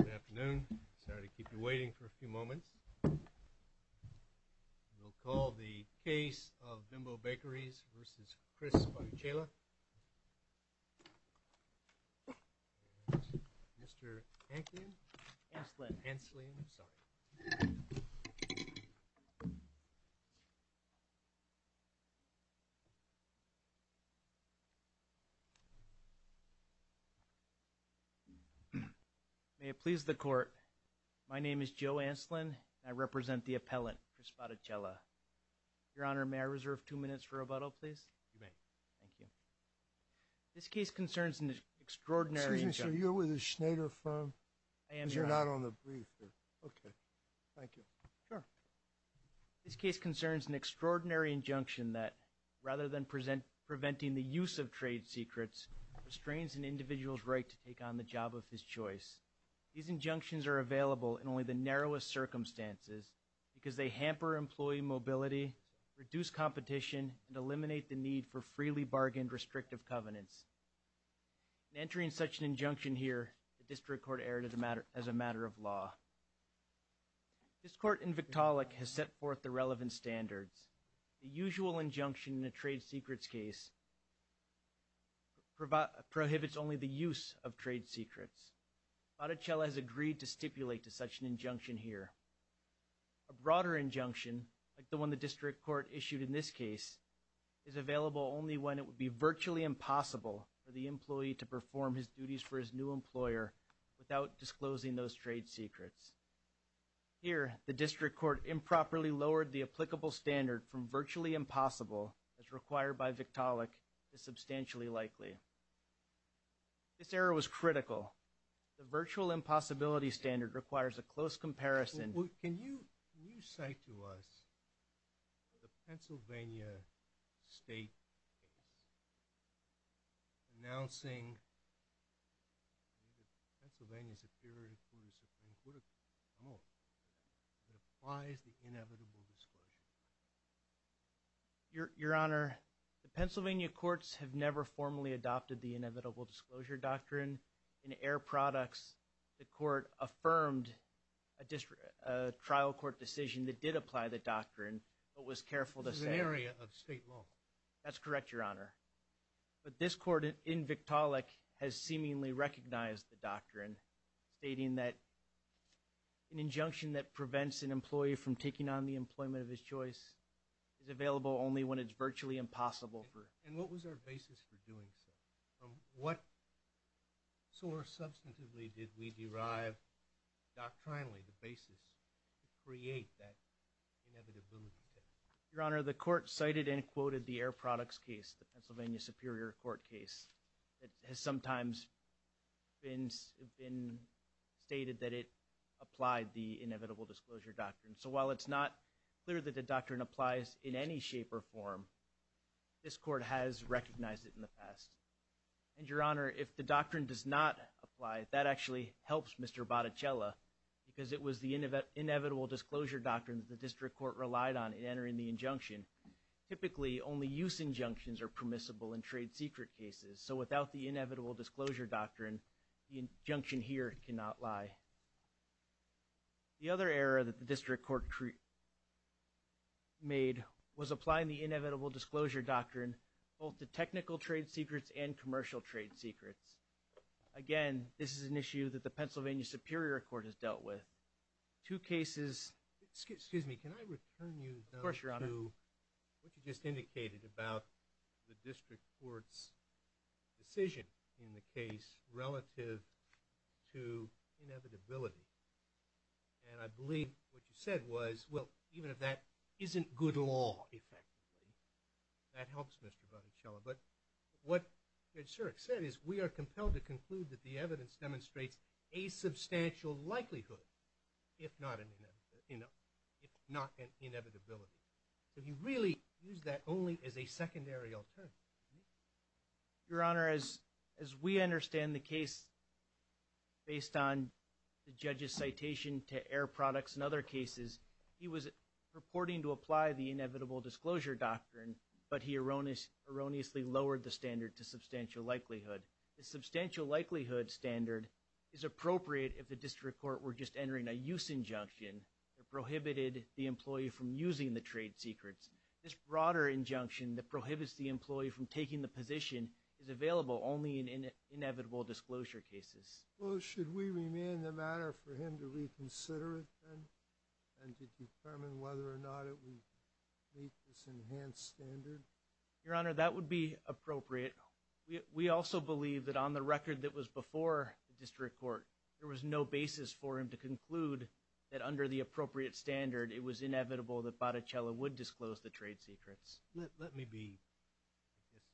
Good afternoon. Sorry to keep you waiting for a few moments. We'll call the case of Joe Ancelin. May it please the court. My name is Joe Ancelin. I represent the appellant for Spotticella. Your Honor, may I reserve two minutes for rebuttal, please? You may. Thank you. This case concerns an extraordinary... Excuse me, sir. You're with a Schneider firm? I am, Your Honor. Because you're not on the brief. Okay. Thank you. Sure. This case concerns an extraordinary injunction that rather than preventing the use of trade secrets, restrains an individual's right to take on the job of his choice. These injunctions are available in only the narrowest circumstances because they hamper employee mobility, reduce competition, and eliminate the need for freely bargained restrictive covenants. In entering such an injunction here, the district court erred as a matter of law. This court in Victaulic has set forth the relevant standards. The usual injunction in a trade secrets case prohibits only the use of trade secrets. Spotticella has agreed to stipulate to such an injunction here. A broader injunction, like the one the district court issued in this case, is available only when it would be virtually impossible for the employee to perform his duties for his new employer without disclosing those trade secrets. Here, the district court improperly lowered the applicable standard from virtually impossible as required by Victaulic is substantially likely. This error was critical. The virtual impossibility standard requires a close comparison. Can you cite to us the Pennsylvania State case announcing that the Pennsylvania Superior Court of Supreme Court of Common Law applies the inevitable disclosure? Your Honor, the Pennsylvania courts have never formally adopted the inevitable disclosure doctrine. In air products, the court affirmed a trial court decision that did apply the doctrine, but was careful to say. It's an area of state law. That's correct, Your Honor. But this court in Victaulic has seemingly recognized the doctrine, stating that an injunction that prevents an employee from taking on the employment of his choice is available only when it's virtually impossible for. And what was our basis for doing so? From what source substantively did we derive doctrinally the basis to create that inevitability test? Your Honor, the court cited and quoted the air products case, the Pennsylvania Superior Court case. It has sometimes been stated that it applied the inevitable disclosure doctrine. So while it's not clear that the doctrine applies in any shape or form, this court has recognized it in the past. And Your Honor, if the doctrine does not apply, that actually helps Mr. Botticella because it was the inevitable disclosure doctrine that the district court relied on in entering the injunction. Typically, only use injunctions are permissible in trade secret cases. So without the inevitable disclosure doctrine, the injunction here cannot lie. The other error that the district court made was applying the inevitable disclosure doctrine both to technical trade secrets and commercial trade secrets. Again, this is an issue that the Pennsylvania Superior Court has dealt with. Two cases. Excuse me, can I return you to what you just indicated about the district court's decision in the case relative to inevitability? And I believe what you said was, well, even if that isn't good law effectively, that helps Mr. Botticella. But what Judge Surik said is we are compelled to conclude that the evidence demonstrates a substantial likelihood, if not an inevitability. So you really use that only as a secondary alternative. Your Honor, as we understand the case based on the judge's citation to air products and other cases, he was purporting to apply the inevitable disclosure doctrine, but he erroneously lowered the standard to substantial likelihood. The substantial likelihood standard is appropriate if the district court were just entering a use injunction that prohibited the employee from using the trade secrets. This broader injunction that prohibits the employee from taking the position is available only in inevitable disclosure cases. Well, should we remain the matter for him to reconsider it then, and to determine whether or not it would meet this enhanced standard? Your Honor, that would be appropriate. We also believe that on the record that was before the district court, there was no basis for him to conclude that under the appropriate standard, it was inevitable that Botticella would disclose the trade secrets. Let me be, I guess,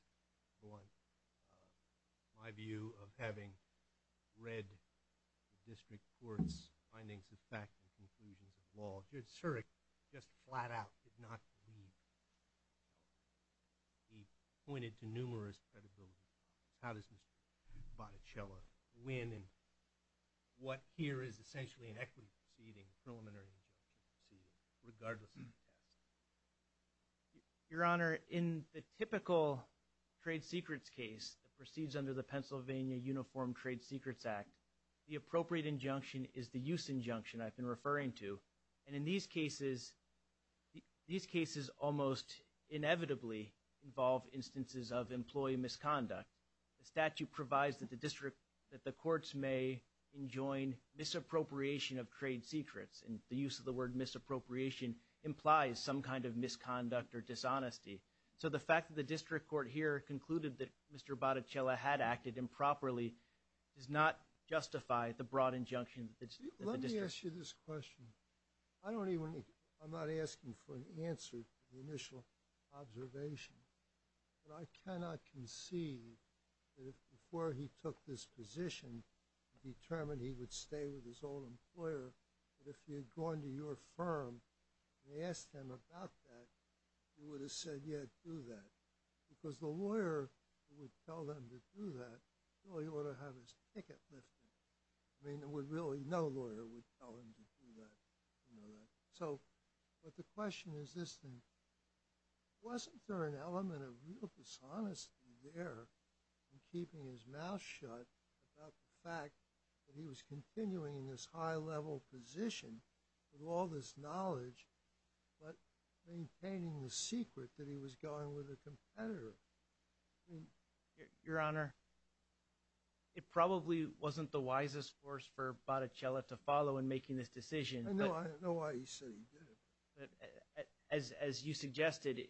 blunt. My view of having read the district court's findings of fact and conclusions of law, Judge Surik just flat out did not believe. He pointed to numerous credibility problems. How does Mr. Botticella win in what here is essentially an equity proceeding, preliminary injunction proceeding, regardless of the test? Your Honor, in the typical trade secrets case that proceeds under the Pennsylvania Uniform Trade Secrets Act, the appropriate injunction is the use injunction I've been referring to. And in these cases, these cases almost inevitably involve instances of employee misconduct. The statute provides that the district, that the courts may enjoin misappropriation of trade secrets. And the use of the word misappropriation implies some kind of misconduct or dishonesty. So the fact that the district court here concluded that Mr. Botticella had acted improperly does not justify the broad injunction of the district. Let me ask you this question. I don't even, I'm not asking for an answer to the initial observation, but I cannot concede that if before he took this position, he determined he would stay with his old employer, that if he had gone to your firm and asked him about that, he would have said, yeah, do that. Because the lawyer would tell them to do that, so he ought to have his ticket lifted. I mean, it would really, no lawyer would tell him to do that, you know that. So, but the question is this thing. Wasn't there an element of real dishonesty there in keeping his mouth shut about the fact that he was continuing in this high-level position with all this knowledge, but maintaining the competitor? Your Honor, it probably wasn't the wisest course for Botticella to follow in making this decision. I know, I know why he said he did it. As you suggested,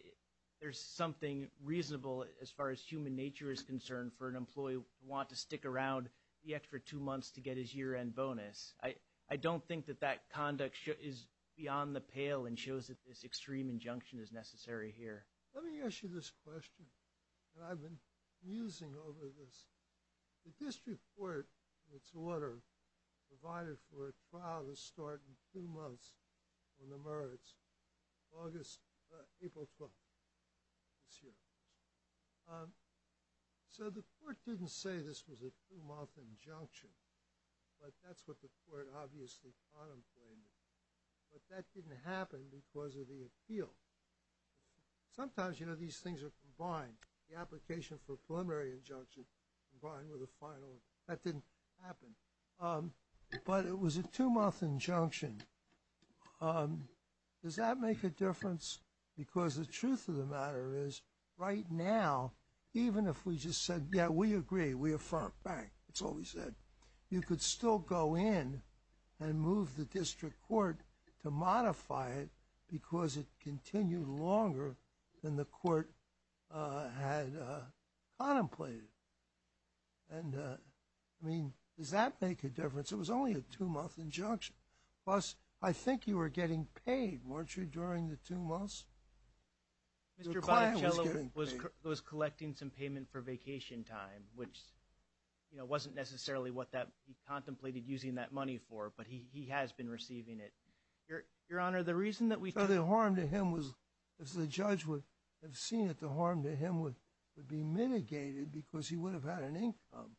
there's something reasonable as far as human nature is concerned for an employee to want to stick around the extra two months to get his year-end bonus. I don't think that that conduct is beyond the pale and shows that this extreme injunction is necessary here. Let me ask you this question that I've been musing over this. The district court, in its order, provided for a trial to start in two months on the merits, August, April 12th this year. So the court didn't say this was a two-month injunction, but that's what the court obviously contemplated. But that didn't happen because of the appeal. Sometimes, you know, these things are combined. The application for a preliminary injunction combined with a final, that didn't happen. But it was a two-month injunction. Does that make a difference? Because the truth of the matter is, right now, even if we just said, yeah, we agree, we affirm, bang, it's all we said, you could still go in and move the district court to modify it because it continued longer than the court had contemplated. And, I mean, does that make a difference? It was only a two-month injunction. Plus, I think you were getting paid, weren't you, during the two months? The client was getting paid. Mr. Bonicello was collecting some payment for vacation time, which, you know, wasn't necessarily what he contemplated using that money for, but he has been receiving it. Your Honor, the reason that we took... So the harm to him was, if the judge would have seen it, the harm to him would be mitigated because he would have had an income.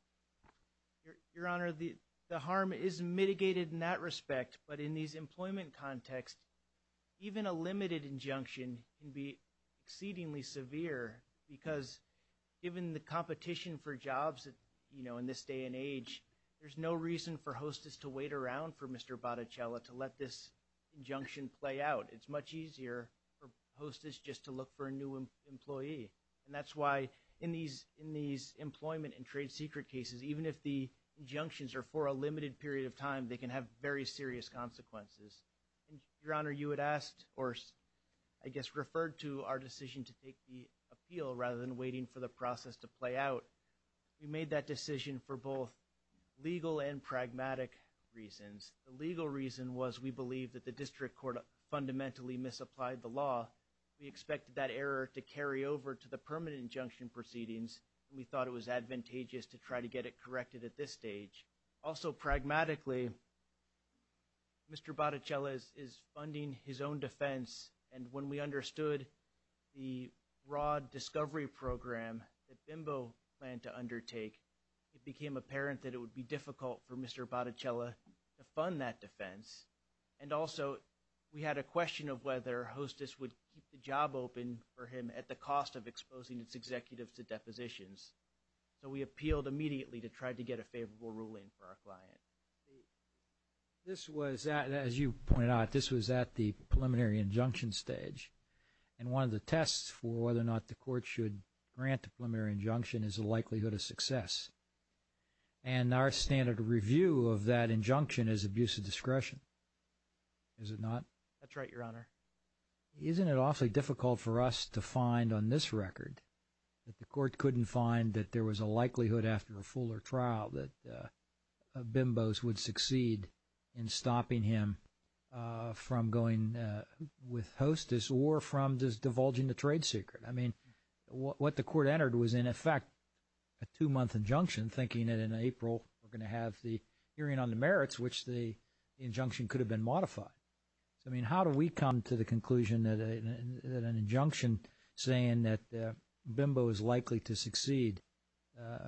Your Honor, the harm is mitigated in that respect, but in these employment contexts, even a limited injunction can be exceedingly severe because, given the competition for jobs, you know, in this day and age, there's no reason for hostess to wait around for Mr. Bonicello to let this injunction play out. It's much easier for hostess just to look for a new employee. And that's why, in these employment and trade cases, even if the injunctions are for a limited period of time, they can have very serious consequences. Your Honor, you had asked or, I guess, referred to our decision to take the appeal rather than waiting for the process to play out. We made that decision for both legal and pragmatic reasons. The legal reason was we believed that the district court fundamentally misapplied the law. We expected that error to carry over to the permanent injunction proceedings. We thought it was advantageous to try to get it corrected at this stage. Also, pragmatically, Mr. Bonicello is funding his own defense, and when we understood the broad discovery program that BIMBO planned to undertake, it became apparent that it would be difficult for Mr. Bonicello to fund that defense. And also, we had a question of whether hostess would keep the job open for him at the cost of exposing its executives to depositions. So we appealed immediately to try to get a favorable ruling for our client. This was, as you pointed out, this was at the preliminary injunction stage. And one of the tests for whether or not the court should grant the preliminary injunction is the likelihood of success. And our standard review of that injunction is abuse of discretion, is it not? That's right, Your Honor. Isn't it awfully difficult for us to find on this record that the court couldn't find that there was a likelihood after a fuller trial that BIMBOs would succeed in stopping him from going with hostess or from just divulging the trade secret? I mean, what the court entered was, in effect, a two-month injunction, thinking that in April we're going to have the hearing on the merits, which the injunction could have been modified. So, I mean, how do we come to the conclusion that an injunction saying that BIMBO is likely to succeed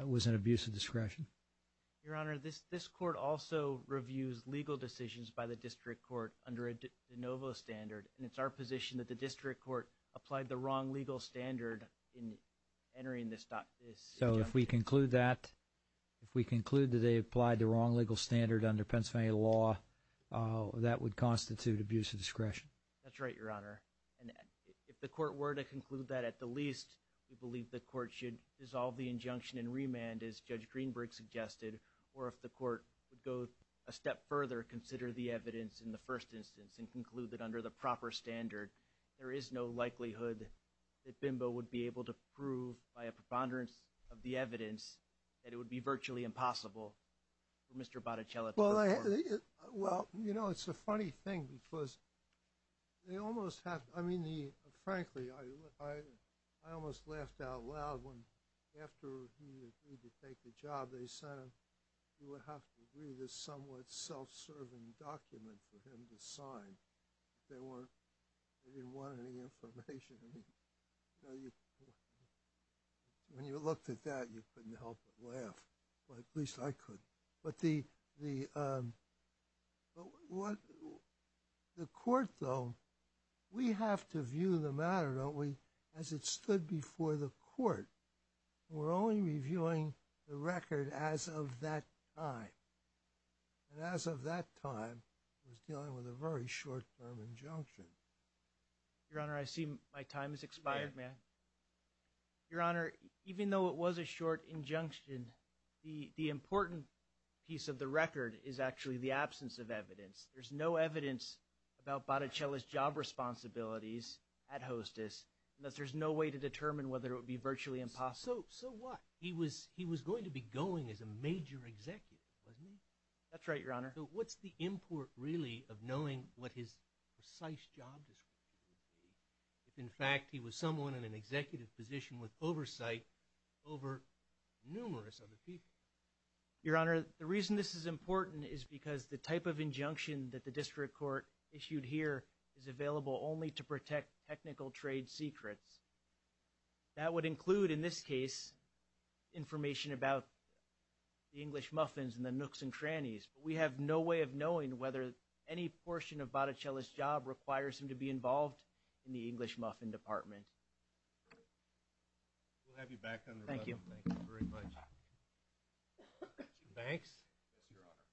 was an abuse of discretion? Your Honor, this court also reviews legal decisions by the district court under a de novo standard. And it's our position that the district court applied the wrong legal standard in entering this injunction. So, if we conclude that they applied the wrong legal standard under Pennsylvania law, that would constitute abuse of discretion? That's right, Your Honor. And if the court were to conclude that, at the least, we believe the court should dissolve the injunction and remand, as Judge Greenberg suggested, or if the court would go a step further, consider the evidence in the first instance and conclude that under the proper standard, there is no likelihood that BIMBO would be able to prove by a preponderance of the evidence that it would be virtually impossible for Mr. Boticelli to perform? Well, you know, it's a funny thing because they almost have, I mean, frankly, I almost laughed out loud when after he agreed to take the job, they said you would have to read a somewhat self-serving document for him to sign. They didn't want any information. When you looked at that, you couldn't help but laugh. At least I couldn't. But the court, though, we have to view the matter, don't we, as it stood before the court. We're only reviewing the record as of that time. And as of that time, it was dealing with a very short-term injunction. Your Honor, I see my time has expired. May I? Your Honor, even though it was a short injunction, the important piece of the record is actually the absence of evidence. There's no evidence about Boticelli's job responsibilities at hostess, and thus there's no way to determine whether it would be virtually impossible. So what? He was going to be going as a major executive, wasn't he? That's right, Your Honor. What's the import really of knowing what his precise job description would be if, in fact, he was someone in an executive position with oversight over numerous other people? Your Honor, the reason this is important is because the type of injunction that the district court issued here is available only to protect technical trade secrets. That would include, in this case, information about the English muffins and the Boticelli's job requires him to be involved in the English muffin department. We'll have you back on the record. Thank you. Thank you very much. Banks? Yes, Your Honor.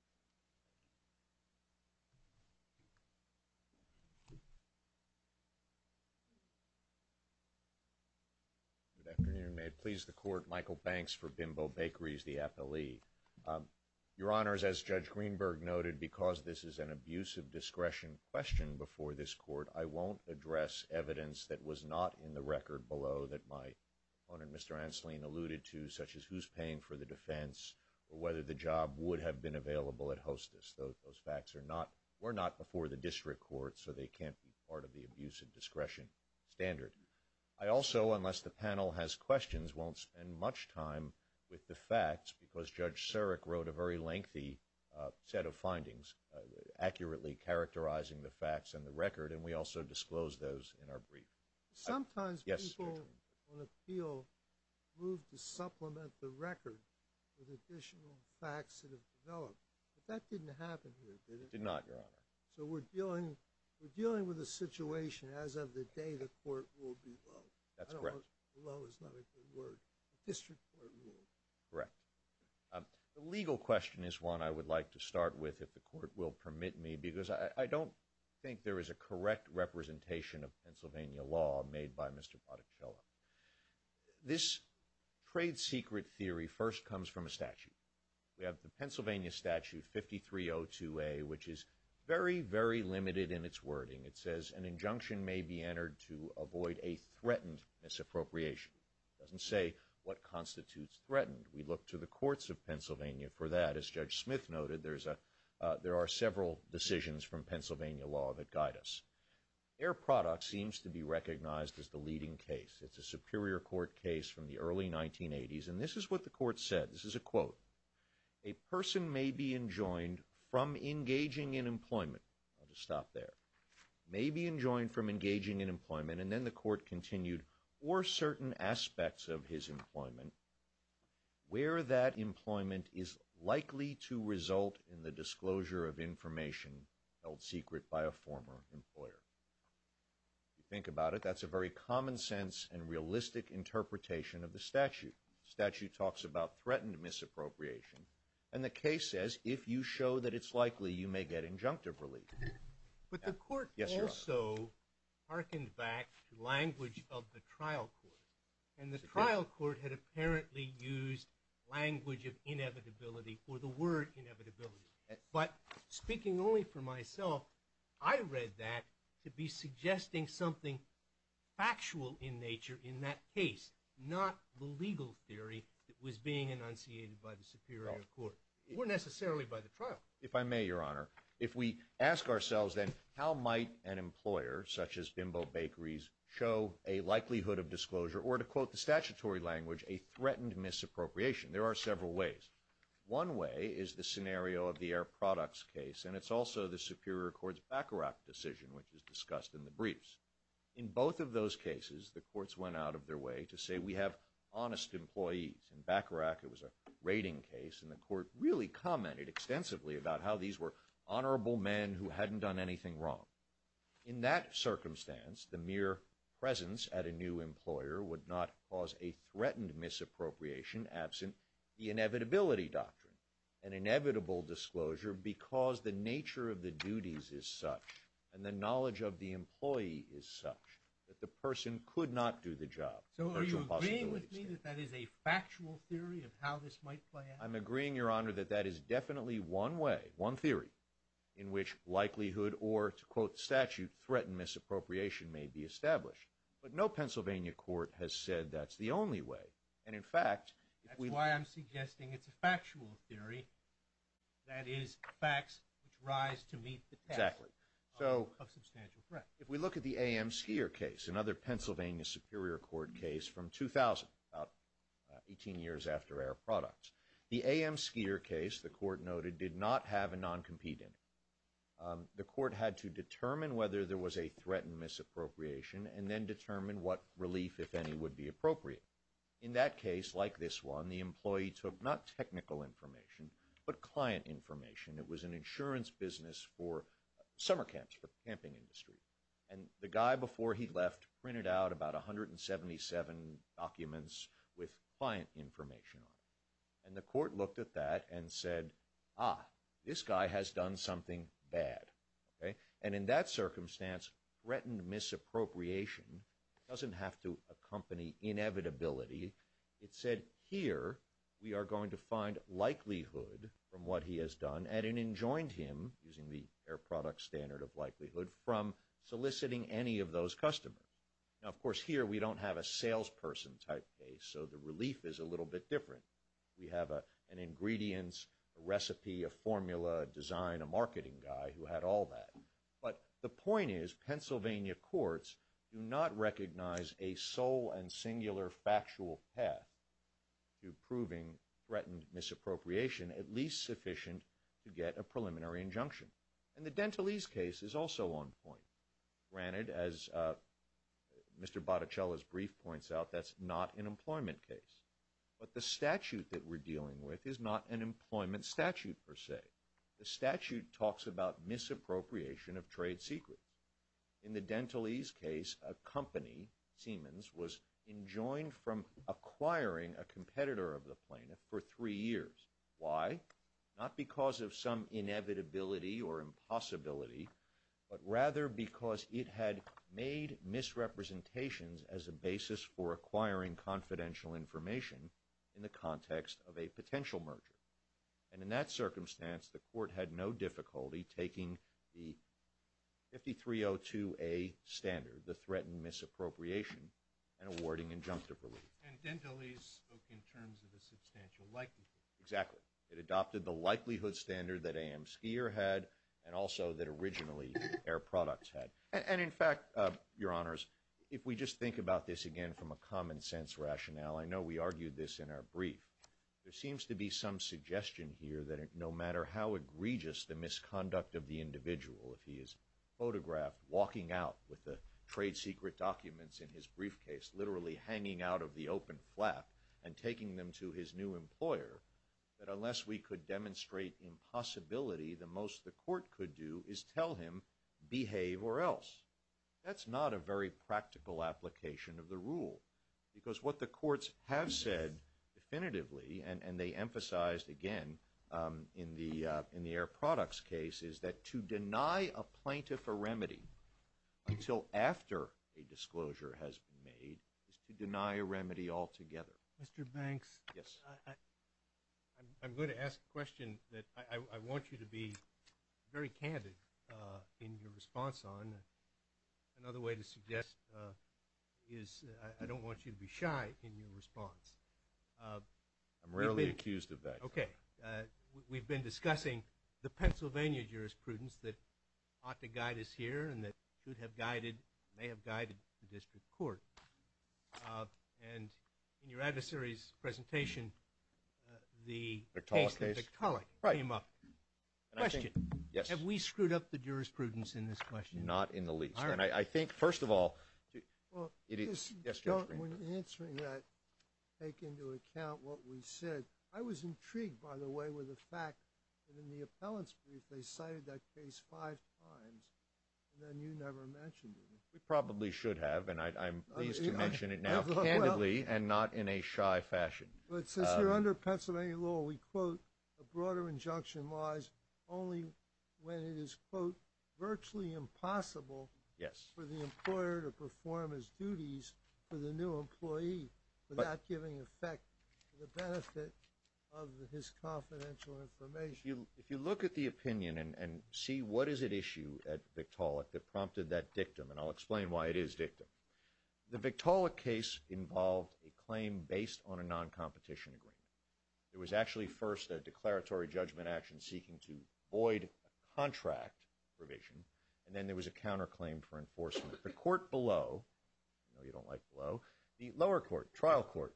Good afternoon. May it please the Court, Michael Banks for Bimbo Bakeries, the appellee. Your Honor, as Judge Greenberg noted, because this is an abuse of discretion question before this Court, I won't address evidence that was not in the record below that my opponent, Mr. Anseline, alluded to, such as who's paying for the defense or whether the job would have been available at hostess. Those facts were not before the district court, so they can't be part of the abuse of discretion standard. I also, unless the panel has questions, won't spend much time with the facts because Judge Surik wrote a very lengthy set of findings accurately characterizing the facts and the record, and we also disclosed those in our brief. Sometimes people on appeal move to supplement the record with additional facts that have developed, but that didn't happen here, did it? It did not, Your Honor. So we're dealing with a situation as of the day the court ruled below. That's correct. Below is not a good word. The district court ruled. Correct. The legal question is one I would like to start with, if the Court will permit me, because I don't think there is a correct representation of Pennsylvania law made by Mr. Botticella. This trade secret theory first comes from a statute. We have the Pennsylvania Statute 5302a, which is very, very limited in its wording. It says an injunction may be entered to avoid a threatened. We look to the courts of Pennsylvania for that. As Judge Smith noted, there are several decisions from Pennsylvania law that guide us. Air product seems to be recognized as the leading case. It's a Superior Court case from the early 1980s, and this is what the Court said. This is a quote. A person may be enjoined from engaging in employment. I'll just stop there. May be enjoined from engaging in employment, and then the Court continued, or certain aspects of his employment, where that employment is likely to result in the disclosure of information held secret by a former employer. If you think about it, that's a very common sense and realistic interpretation of the statute. The statute talks about threatened misappropriation, and the case says if you show that it's likely, you may get injunctive relief. But the Court also hearkened back to language of the trial court, and the trial court had apparently used language of inevitability, or the word inevitability. But speaking only for myself, I read that to be suggesting something factual in nature in that case, not the legal theory that was being enunciated by the Superior Court, or necessarily by the trial court. If I may, Your Honor, if we ask ourselves then, how might an employer, such as Bimbo Bakery's, show a likelihood of disclosure, or to quote the statutory language, a threatened misappropriation? There are several ways. One way is the scenario of the Air Products case, and it's also the Superior Court's Baccarat decision, which is discussed in the briefs. In both of those cases, the courts went out of their way to say we have honest employees. In Baccarat, it was a rating case, and the Court really commented extensively about how these were honorable men who hadn't done anything wrong. In that circumstance, the mere presence at a new employer would not cause a threatened misappropriation absent the inevitability doctrine, an inevitable disclosure because the nature of the duties is such, and the knowledge of the employee is such, that the person could not do the job. So are you agreeing with me that that is a factual theory of how this might play out? I'm agreeing, Your Honor, that that is definitely one way, one theory, in which likelihood, or to quote statute, threatened misappropriation may be established. But no Pennsylvania court has said that's the only way. And in fact, that's why I'm suggesting it's a factual theory, that is facts which rise to meet the task of substantial threat. If we look at the A.M. Skier case, another Pennsylvania Superior Court case from 2000, about 18 years after Air Products, the A.M. Skier case, the Court noted, did not have a non-compete in it. The Court had to determine whether there was a threatened misappropriation, and then determine what relief, if any, would be appropriate. In that case, like this one, the employee took not technical information, but client information. It was an insurance business for summer camps, for the camping industry. And the guy before he left printed out about 177 documents with client information on it. And the Court looked at that and said, ah, this guy has done something bad, okay? And in that circumstance, threatened misappropriation doesn't have to accompany inevitability. It said, here, we are going to find likelihood from what he has done, and it enjoined him, using the Air Products standard of likelihood, from soliciting any of those customers. Now, of course, here, we don't have a salesperson type case, so the relief is a little bit different. We have an ingredients, a recipe, a formula, a design, a marketing guy who had all that. But the point is, Pennsylvania courts do not recognize a sole and singular factual path to proving threatened misappropriation, at least sufficient to get a preliminary injunction. And the Dentalese case is also on point. Granted, as Mr. Botticella's brief points out, that's not an employment case. But the statute that we're dealing with is not an employment statute, per se. The statute talks about misappropriation of trade secrets. In the Dentalese case, a company, Siemens, was enjoined from acquiring a competitor of the plaintiff for three years. Why? Not because of some inevitability or impossibility, but rather because it had made misrepresentations as a basis for acquiring confidential information in the context of a potential merger. And in that circumstance, the court had no difficulty taking the 5302A standard, the threatened misappropriation, and awarding injunctive relief. And Dentalese spoke in terms of a substantial likelihood. Exactly. It adopted the likelihood standard that AM Skier had and also that originally Air Products had. And in fact, Your Honors, if we just think about this again from a common sense rationale, I know we argued this in our brief, there seems to be some suggestion here that no matter how egregious the misconduct of the individual, if he is photographed walking out with the trade secret documents in his briefcase, literally hanging out of the open flap and taking them to his new employer, that unless we could demonstrate impossibility, the most the court could do is tell him, behave or else. That's not a very practical application of the rule. Because what the courts have said definitively, and they emphasized again in the Air Products case, is that to deny a plaintiff a remedy until after a disclosure has been made is to deny a remedy altogether. Mr. Banks, I'm going to ask a question that I want you to be very candid in your response on. Another way to suggest is I don't want you to be shy in your response. I'm rarely accused of that. Okay, we've been discussing the Pennsylvania jurisprudence that ought to guide us here, and that should have guided, may have guided the district court. And in your adversary's presentation, the case of Tiktaalik came up. Have we screwed up the jurisprudence in this question? Not in the least. And I think, first of all, well, when answering that, take into account what we said. I was intrigued, by the way, with the fact that in the appellant's brief, they cited that case five times, and then you never mentioned it. We probably should have, and I'm pleased to mention it now candidly and not in a shy fashion. But since you're under Pennsylvania law, we quote, a broader injunction lies only when it is, quote, virtually impossible for the employer to perform his duties for the new employee without giving effect to the benefit of his confidential information. If you look at the opinion and see what is at issue at Tiktaalik that prompted that dictum, and I'll explain why it is dictum. The Tiktaalik case involved a claim based on a non-competition agreement. It was actually first a declaratory judgment action seeking to void a contract provision, and then there was a counterclaim for enforcement. The court below, I know you don't like below, the lower court, trial court,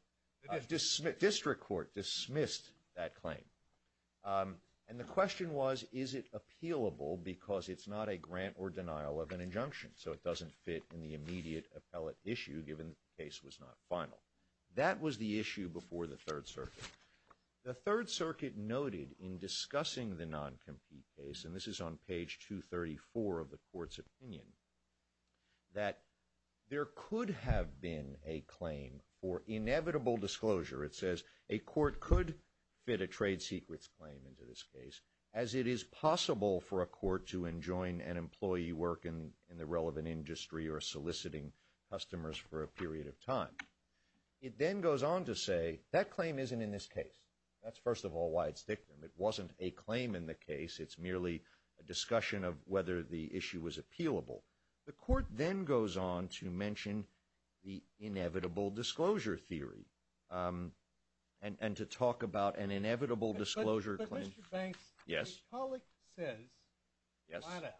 district court dismissed that claim. And the question was, is it appealable because it's not a grant or denial of an injunction, so it doesn't fit in the immediate appellate issue given the case was not final. That was the issue before the Third Circuit. The Third Circuit noted in discussing the non-compete case, and this is on page 234 of the court's opinion, that there could have been a claim for inevitable disclosure. It says a court could fit a trade secrets claim into this case as it is possible for a court to enjoin an employee work in the relevant industry or soliciting customers for a period of time. It then goes on to say that claim isn't in this case. That's first of all why it's dictum. It wasn't a claim in the case. It's merely a discussion of whether the issue was appealable. The court then goes on to mention the inevitable disclosure theory and to talk about an inevitable disclosure claim. But Mr. Banks, Tiktaalik says flat out,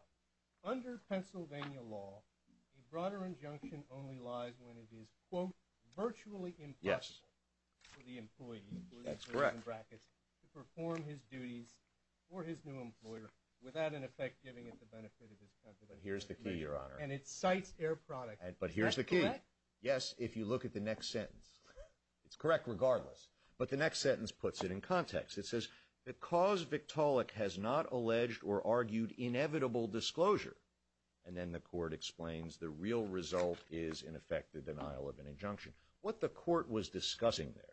under Pennsylvania law, a broader injunction only lies when it is, quote, virtually impossible for the employee, that's correct, to perform his duties for his new employer without in effect giving it the benefit of his country. But here's the key, your honor. And it cites air product. But here's the key. Yes, if you look at the next sentence. It's correct regardless. But the next sentence puts it in context. It says because Viktaalik has not alleged or argued inevitable disclosure, and then the court explains the real result is in effect the denial of an injunction. What the court was discussing there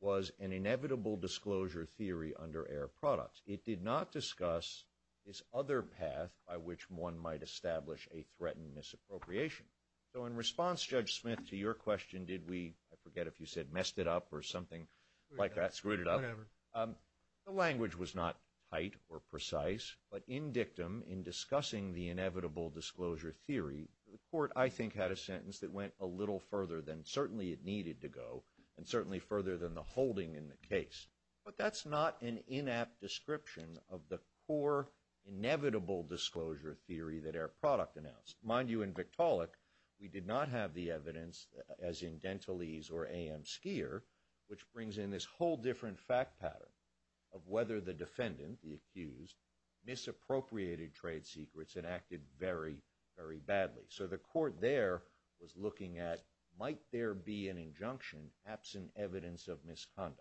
was an inevitable disclosure theory under air product. It did not discuss this other path by which one might establish a threatened misappropriation. So in response, Judge Smith, to your question, did we, I forget if you said messed it up or something like that, screwed it The court, I think, had a sentence that went a little further than certainly it needed to go and certainly further than the holding in the case. But that's not an inapt description of the core inevitable disclosure theory that air product announced. Mind you, in Viktaalik, we did not have the evidence as in Dentalese or AM Skier, which brings in this whole different fact pattern of whether the defendant, the accused, misappropriated trade secrets and acted very, very badly. So the court there was looking at might there be an injunction absent evidence of misconduct.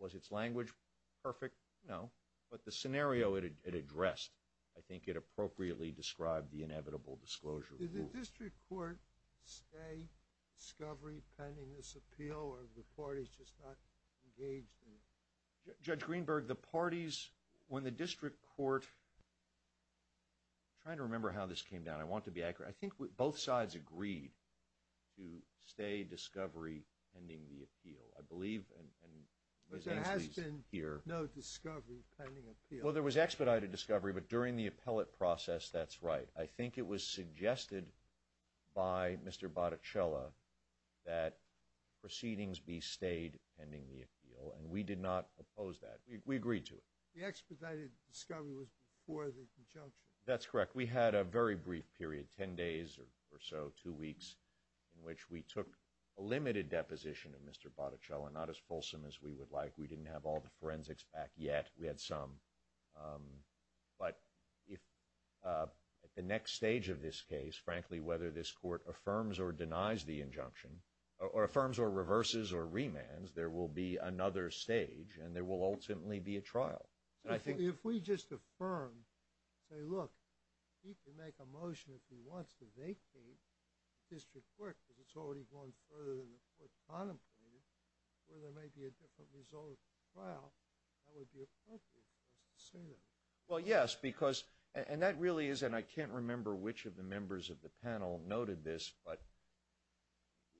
Was its language perfect? No. But the scenario it addressed, I think it appropriately described the inevitable disclosure. Did the district court stay discovery pending this appeal or the parties just not engaged in it? Judge Greenberg, the parties, when the district court, I'm trying to remember how this came down. I want to be accurate. I think both sides agreed to stay discovery pending the appeal, I believe. But there has been no discovery pending appeal. Well, there was expedited discovery, but during the appellate process, that's right. I think it was suggested by Mr. Botticella that proceedings be stayed pending the appeal, and we did not discover it was before the injunction. That's correct. We had a very brief period, 10 days or so, two weeks, in which we took a limited deposition of Mr. Botticella, not as fulsome as we would like. We didn't have all the forensics back yet. We had some. But if at the next stage of this case, frankly, whether this court affirms or denies the injunction or affirms or reverses or remands, there will be another stage and there will ultimately be a trial. If we just affirm, say, look, he can make a motion if he wants to vacate the district court because it's already gone further than the court contemplated, where there may be a different result of the trial, that would be appropriate for us to say that. Well, yes, because, and that really is, and I can't remember which of the members of the panel noted this, but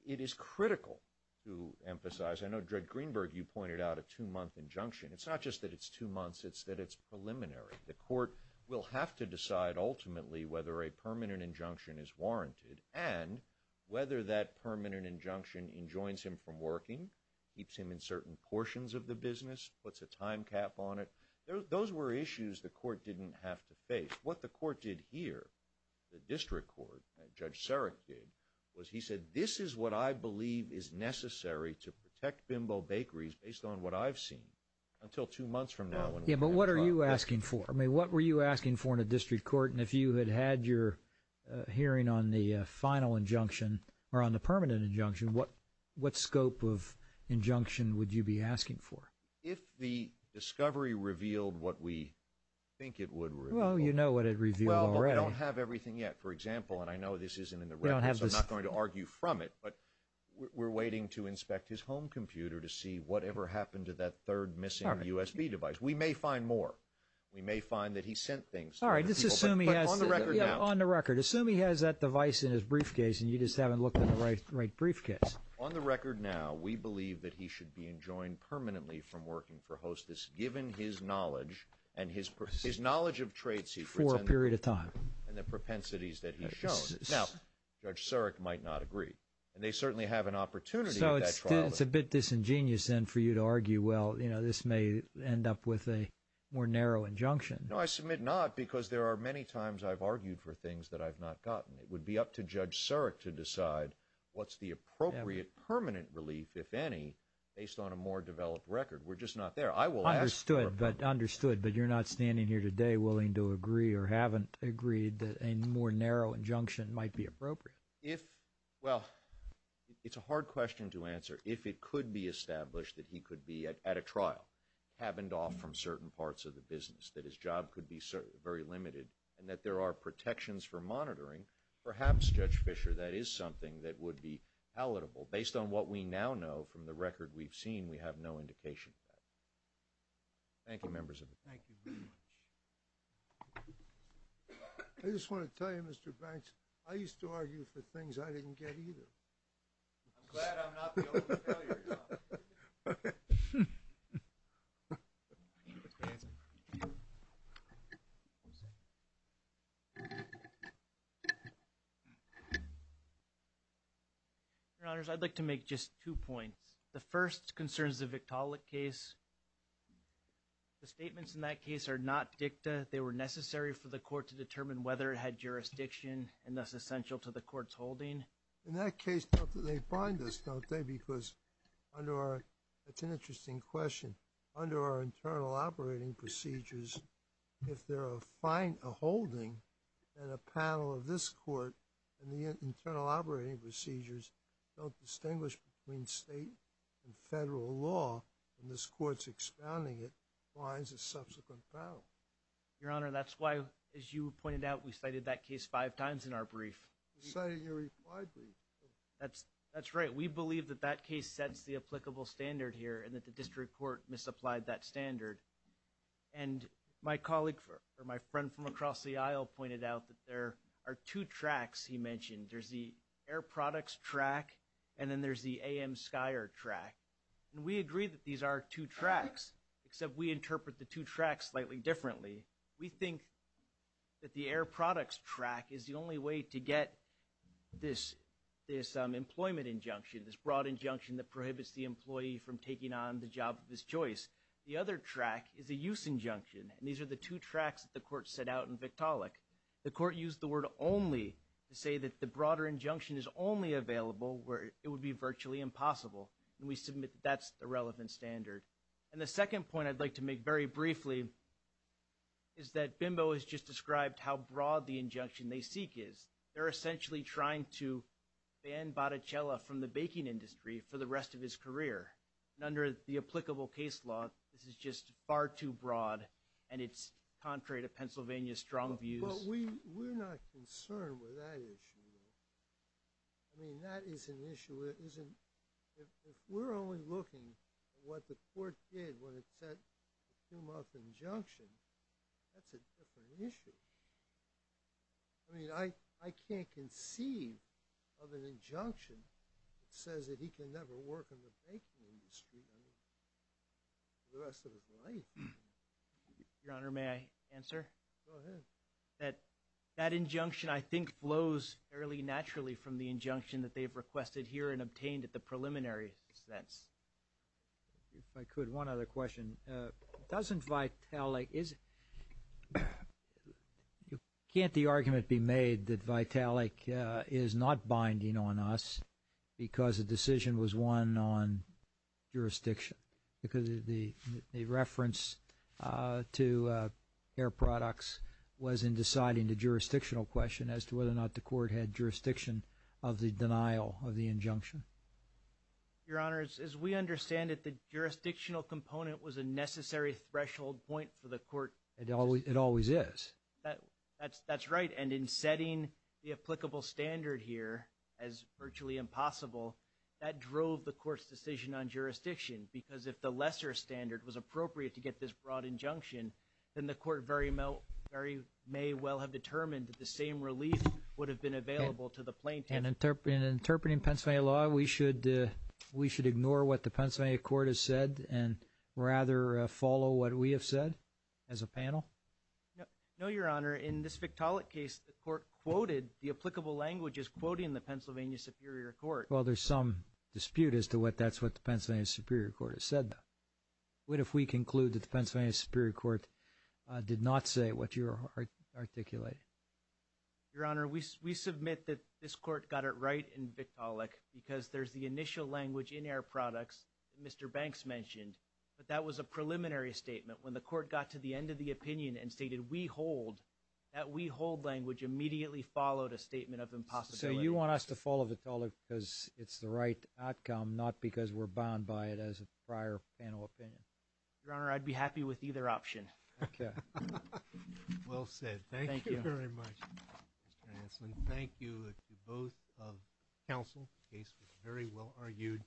it is critical to emphasize. I know, Judge Greenberg, you pointed out a two-month injunction. It's not just that it's two months, it's that it's preliminary. The court will have to decide, ultimately, whether a permanent injunction is warranted and whether that permanent injunction enjoins him from working, keeps him in certain portions of the business, puts a time cap on it. Those were issues the court didn't have to face. What the court did here, the district court, Judge Sarek did, was he said, this is what I believe is necessary to protect bakeries based on what I've seen until two months from now. But what are you asking for? I mean, what were you asking for in a district court? And if you had had your hearing on the final injunction or on the permanent injunction, what scope of injunction would you be asking for? If the discovery revealed what we think it would reveal. Well, you know what it revealed already. Well, but we don't have everything yet. For example, and I know this isn't in the records, I'm not going to argue from it, but we're waiting to inspect his home computer to see whatever happened to that third missing USB device. We may find more. We may find that he sent things to other people. All right, let's assume he has that device in his briefcase and you just haven't looked in the right briefcase. On the record now, we believe that he should be enjoined permanently from working for Hostess, given his knowledge and his knowledge of trade for a period of time and the propensities that he's shown. Now, Judge Surik might not agree, and they certainly have an opportunity. So it's a bit disingenuous then for you to argue, well, you know, this may end up with a more narrow injunction. No, I submit not because there are many times I've argued for things that I've not gotten. It would be up to Judge Surik to decide what's the appropriate permanent relief, if any, based on a more developed record. We're just not there. I will ask for a permit. Understood, but you're not standing here today willing to agree or haven't agreed that a more narrow injunction might be appropriate. If, well, it's a hard question to answer. If it could be established that he could be at a trial, cabined off from certain parts of the business, that his job could be very limited, and that there are protections for monitoring, perhaps, Judge Fischer, that is something that would be palatable. Based on what we now know from the record we've seen, we have no indication of that. Thank you, members of the panel. Thank you very much. I just want to tell you, Mr. Banks, I used to argue for things I The first concerns the Victaulic case. The statements in that case are not dicta. They were necessary for the court to determine whether it had jurisdiction, and thus essential to the court's holding. In that case, don't they find this, don't they? Because under our, that's an interesting question, under our internal operating procedures, if there are, find a holding in a panel of this state and federal law, and this court's expounding it, finds a subsequent panel. Your Honor, that's why, as you pointed out, we cited that case five times in our brief. You cited your required brief. That's, that's right. We believe that that case sets the applicable standard here, and that the district court misapplied that standard. And my colleague, or my friend from across the aisle, pointed out that there are two tracks he mentioned. There's the air products track, and then there's the A.M. Skyer track. And we agree that these are two tracks, except we interpret the two tracks slightly differently. We think that the air products track is the only way to get this, this employment injunction, this broad injunction that prohibits the employee from taking on the job of his choice. The other track is a use injunction, and these are the two tracks that the court set out in Victaulic. The court used the word only to say that the broader injunction is only available where it would be virtually impossible, and we submit that's the relevant standard. And the second point I'd like to make very briefly is that Bimbo has just described how broad the injunction they seek is. They're essentially trying to ban Botticella from the baking industry for the rest of his career, and under the applicable case law, this is just far too broad, and it's contrary to Pennsylvania's strong views. But we, we're not concerned with that issue. I mean, that is an issue that isn't, if we're only looking at what the court did when it set the two-month injunction, that's a different issue. I mean, I, I can't conceive of an injunction that says that he can never work in the baking industry, I mean, for the rest of his life. Your Honor, may I answer? Go ahead. That, that injunction, I think, flows fairly naturally from the injunction that they've requested here and obtained at the preliminary sense. If I could, one other question. Doesn't Vitalik, is, can't the argument be made that Vitalik is not binding on us because the decision was won on as to whether or not the court had jurisdiction of the denial of the injunction? Your Honor, as, as we understand it, the jurisdictional component was a necessary threshold point for the court. It always, it always is. That, that's, that's right, and in setting the applicable standard here as virtually impossible, that drove the court's decision on jurisdiction, because if the lesser standard was appropriate to get this broad injunction, then the court very, very may well have determined that the same relief would have been available to the plaintiff. And in interpreting Pennsylvania law, we should, we should ignore what the Pennsylvania court has said and rather follow what we have said as a panel? No, Your Honor, in this Vitalik case, the court quoted the applicable languages quoting the Pennsylvania Superior Court. Well, there's some dispute as to what, that's what the Pennsylvania Superior Court has said. What if we conclude that the Pennsylvania Superior Court did not say what you're articulating? Your Honor, we, we submit that this court got it right in Vitalik because there's the initial language in our products that Mr. Banks mentioned, but that was a preliminary statement. When the court got to the end of the opinion and stated we hold, that we hold language immediately followed a statement of impossibility. So you want us to follow Vitalik because it's the right outcome, not because we're bound by it as a prior panel opinion? Your Honor, I'd be happy with either option. Okay, well said. Thank you very much, Mr. Hanselman. Thank you to both of counsel. The case was very well argued.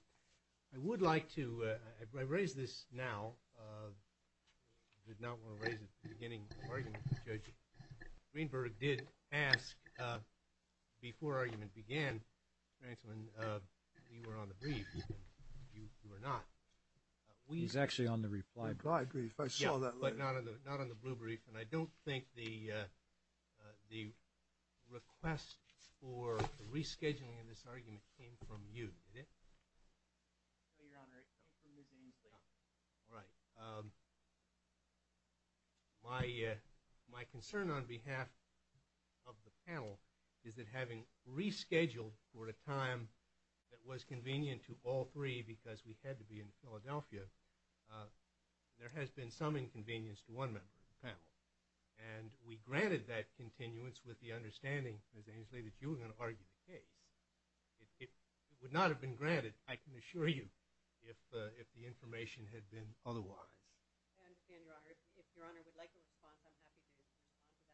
I would like to, I raise this now, I did not want to raise it at the beginning of the argument, but Judge Greenberg did ask before argument began, Hanselman, we were on the brief, you were not. He's actually on the reply brief, I saw that. But not on the, not on the blue brief, and I don't think the, the request for rescheduling in this argument came from you, did it? No, Your Honor, it came from Ms. Ainslie. All right. My, my concern on behalf of the panel is that having rescheduled for a time that was convenient to all three because we had to be in Philadelphia, there has been some inconvenience to one member of the panel. And we granted that continuance with the understanding, Ms. Ainslie, that you were going to argue the case. It would not have been granted, I can assure you, if the information had been otherwise. I understand, Your Honor. If, if Your Honor would like a response, I'm happy to respond to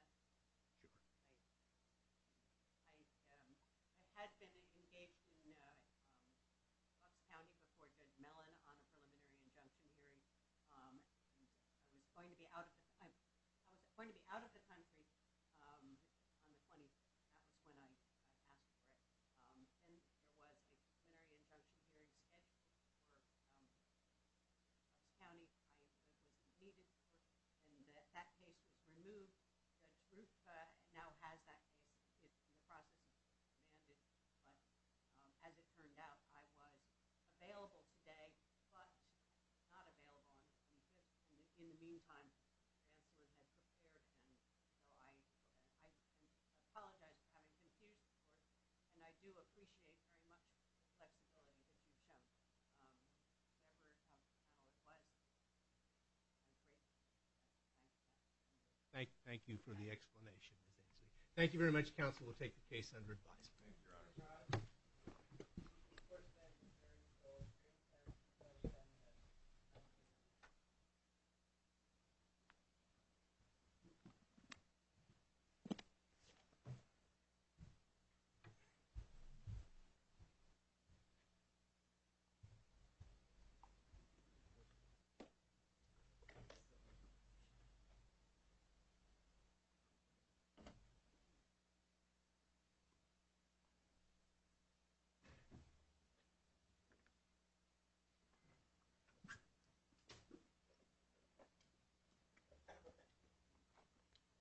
that. Sure. I, I had been engaged in Bucks County before Judge Mellon on a preliminary injunction hearing. I was going to be out of the, I was going to be out of the country on the 20th, that was when I, I passed through it. And there was a preliminary injunction hearing scheduled for Bucks County. I was needed, and that case was removed. The group now has that case. It's in the process of being demanded. But as it turned out, I was available today, but not available on the 20th. And in the meantime, the counselors had prepared, and so I, I, I apologize for having confused the court. And I do appreciate very much the flexibility that you've shown. Whatever counsel's panel request, I'm grateful. Thank you. Thank you for the explanation, Ms. Ainslie. Thank you very much, counsel. We'll take the case under advisory. Thank you, Your Honor. Thank you.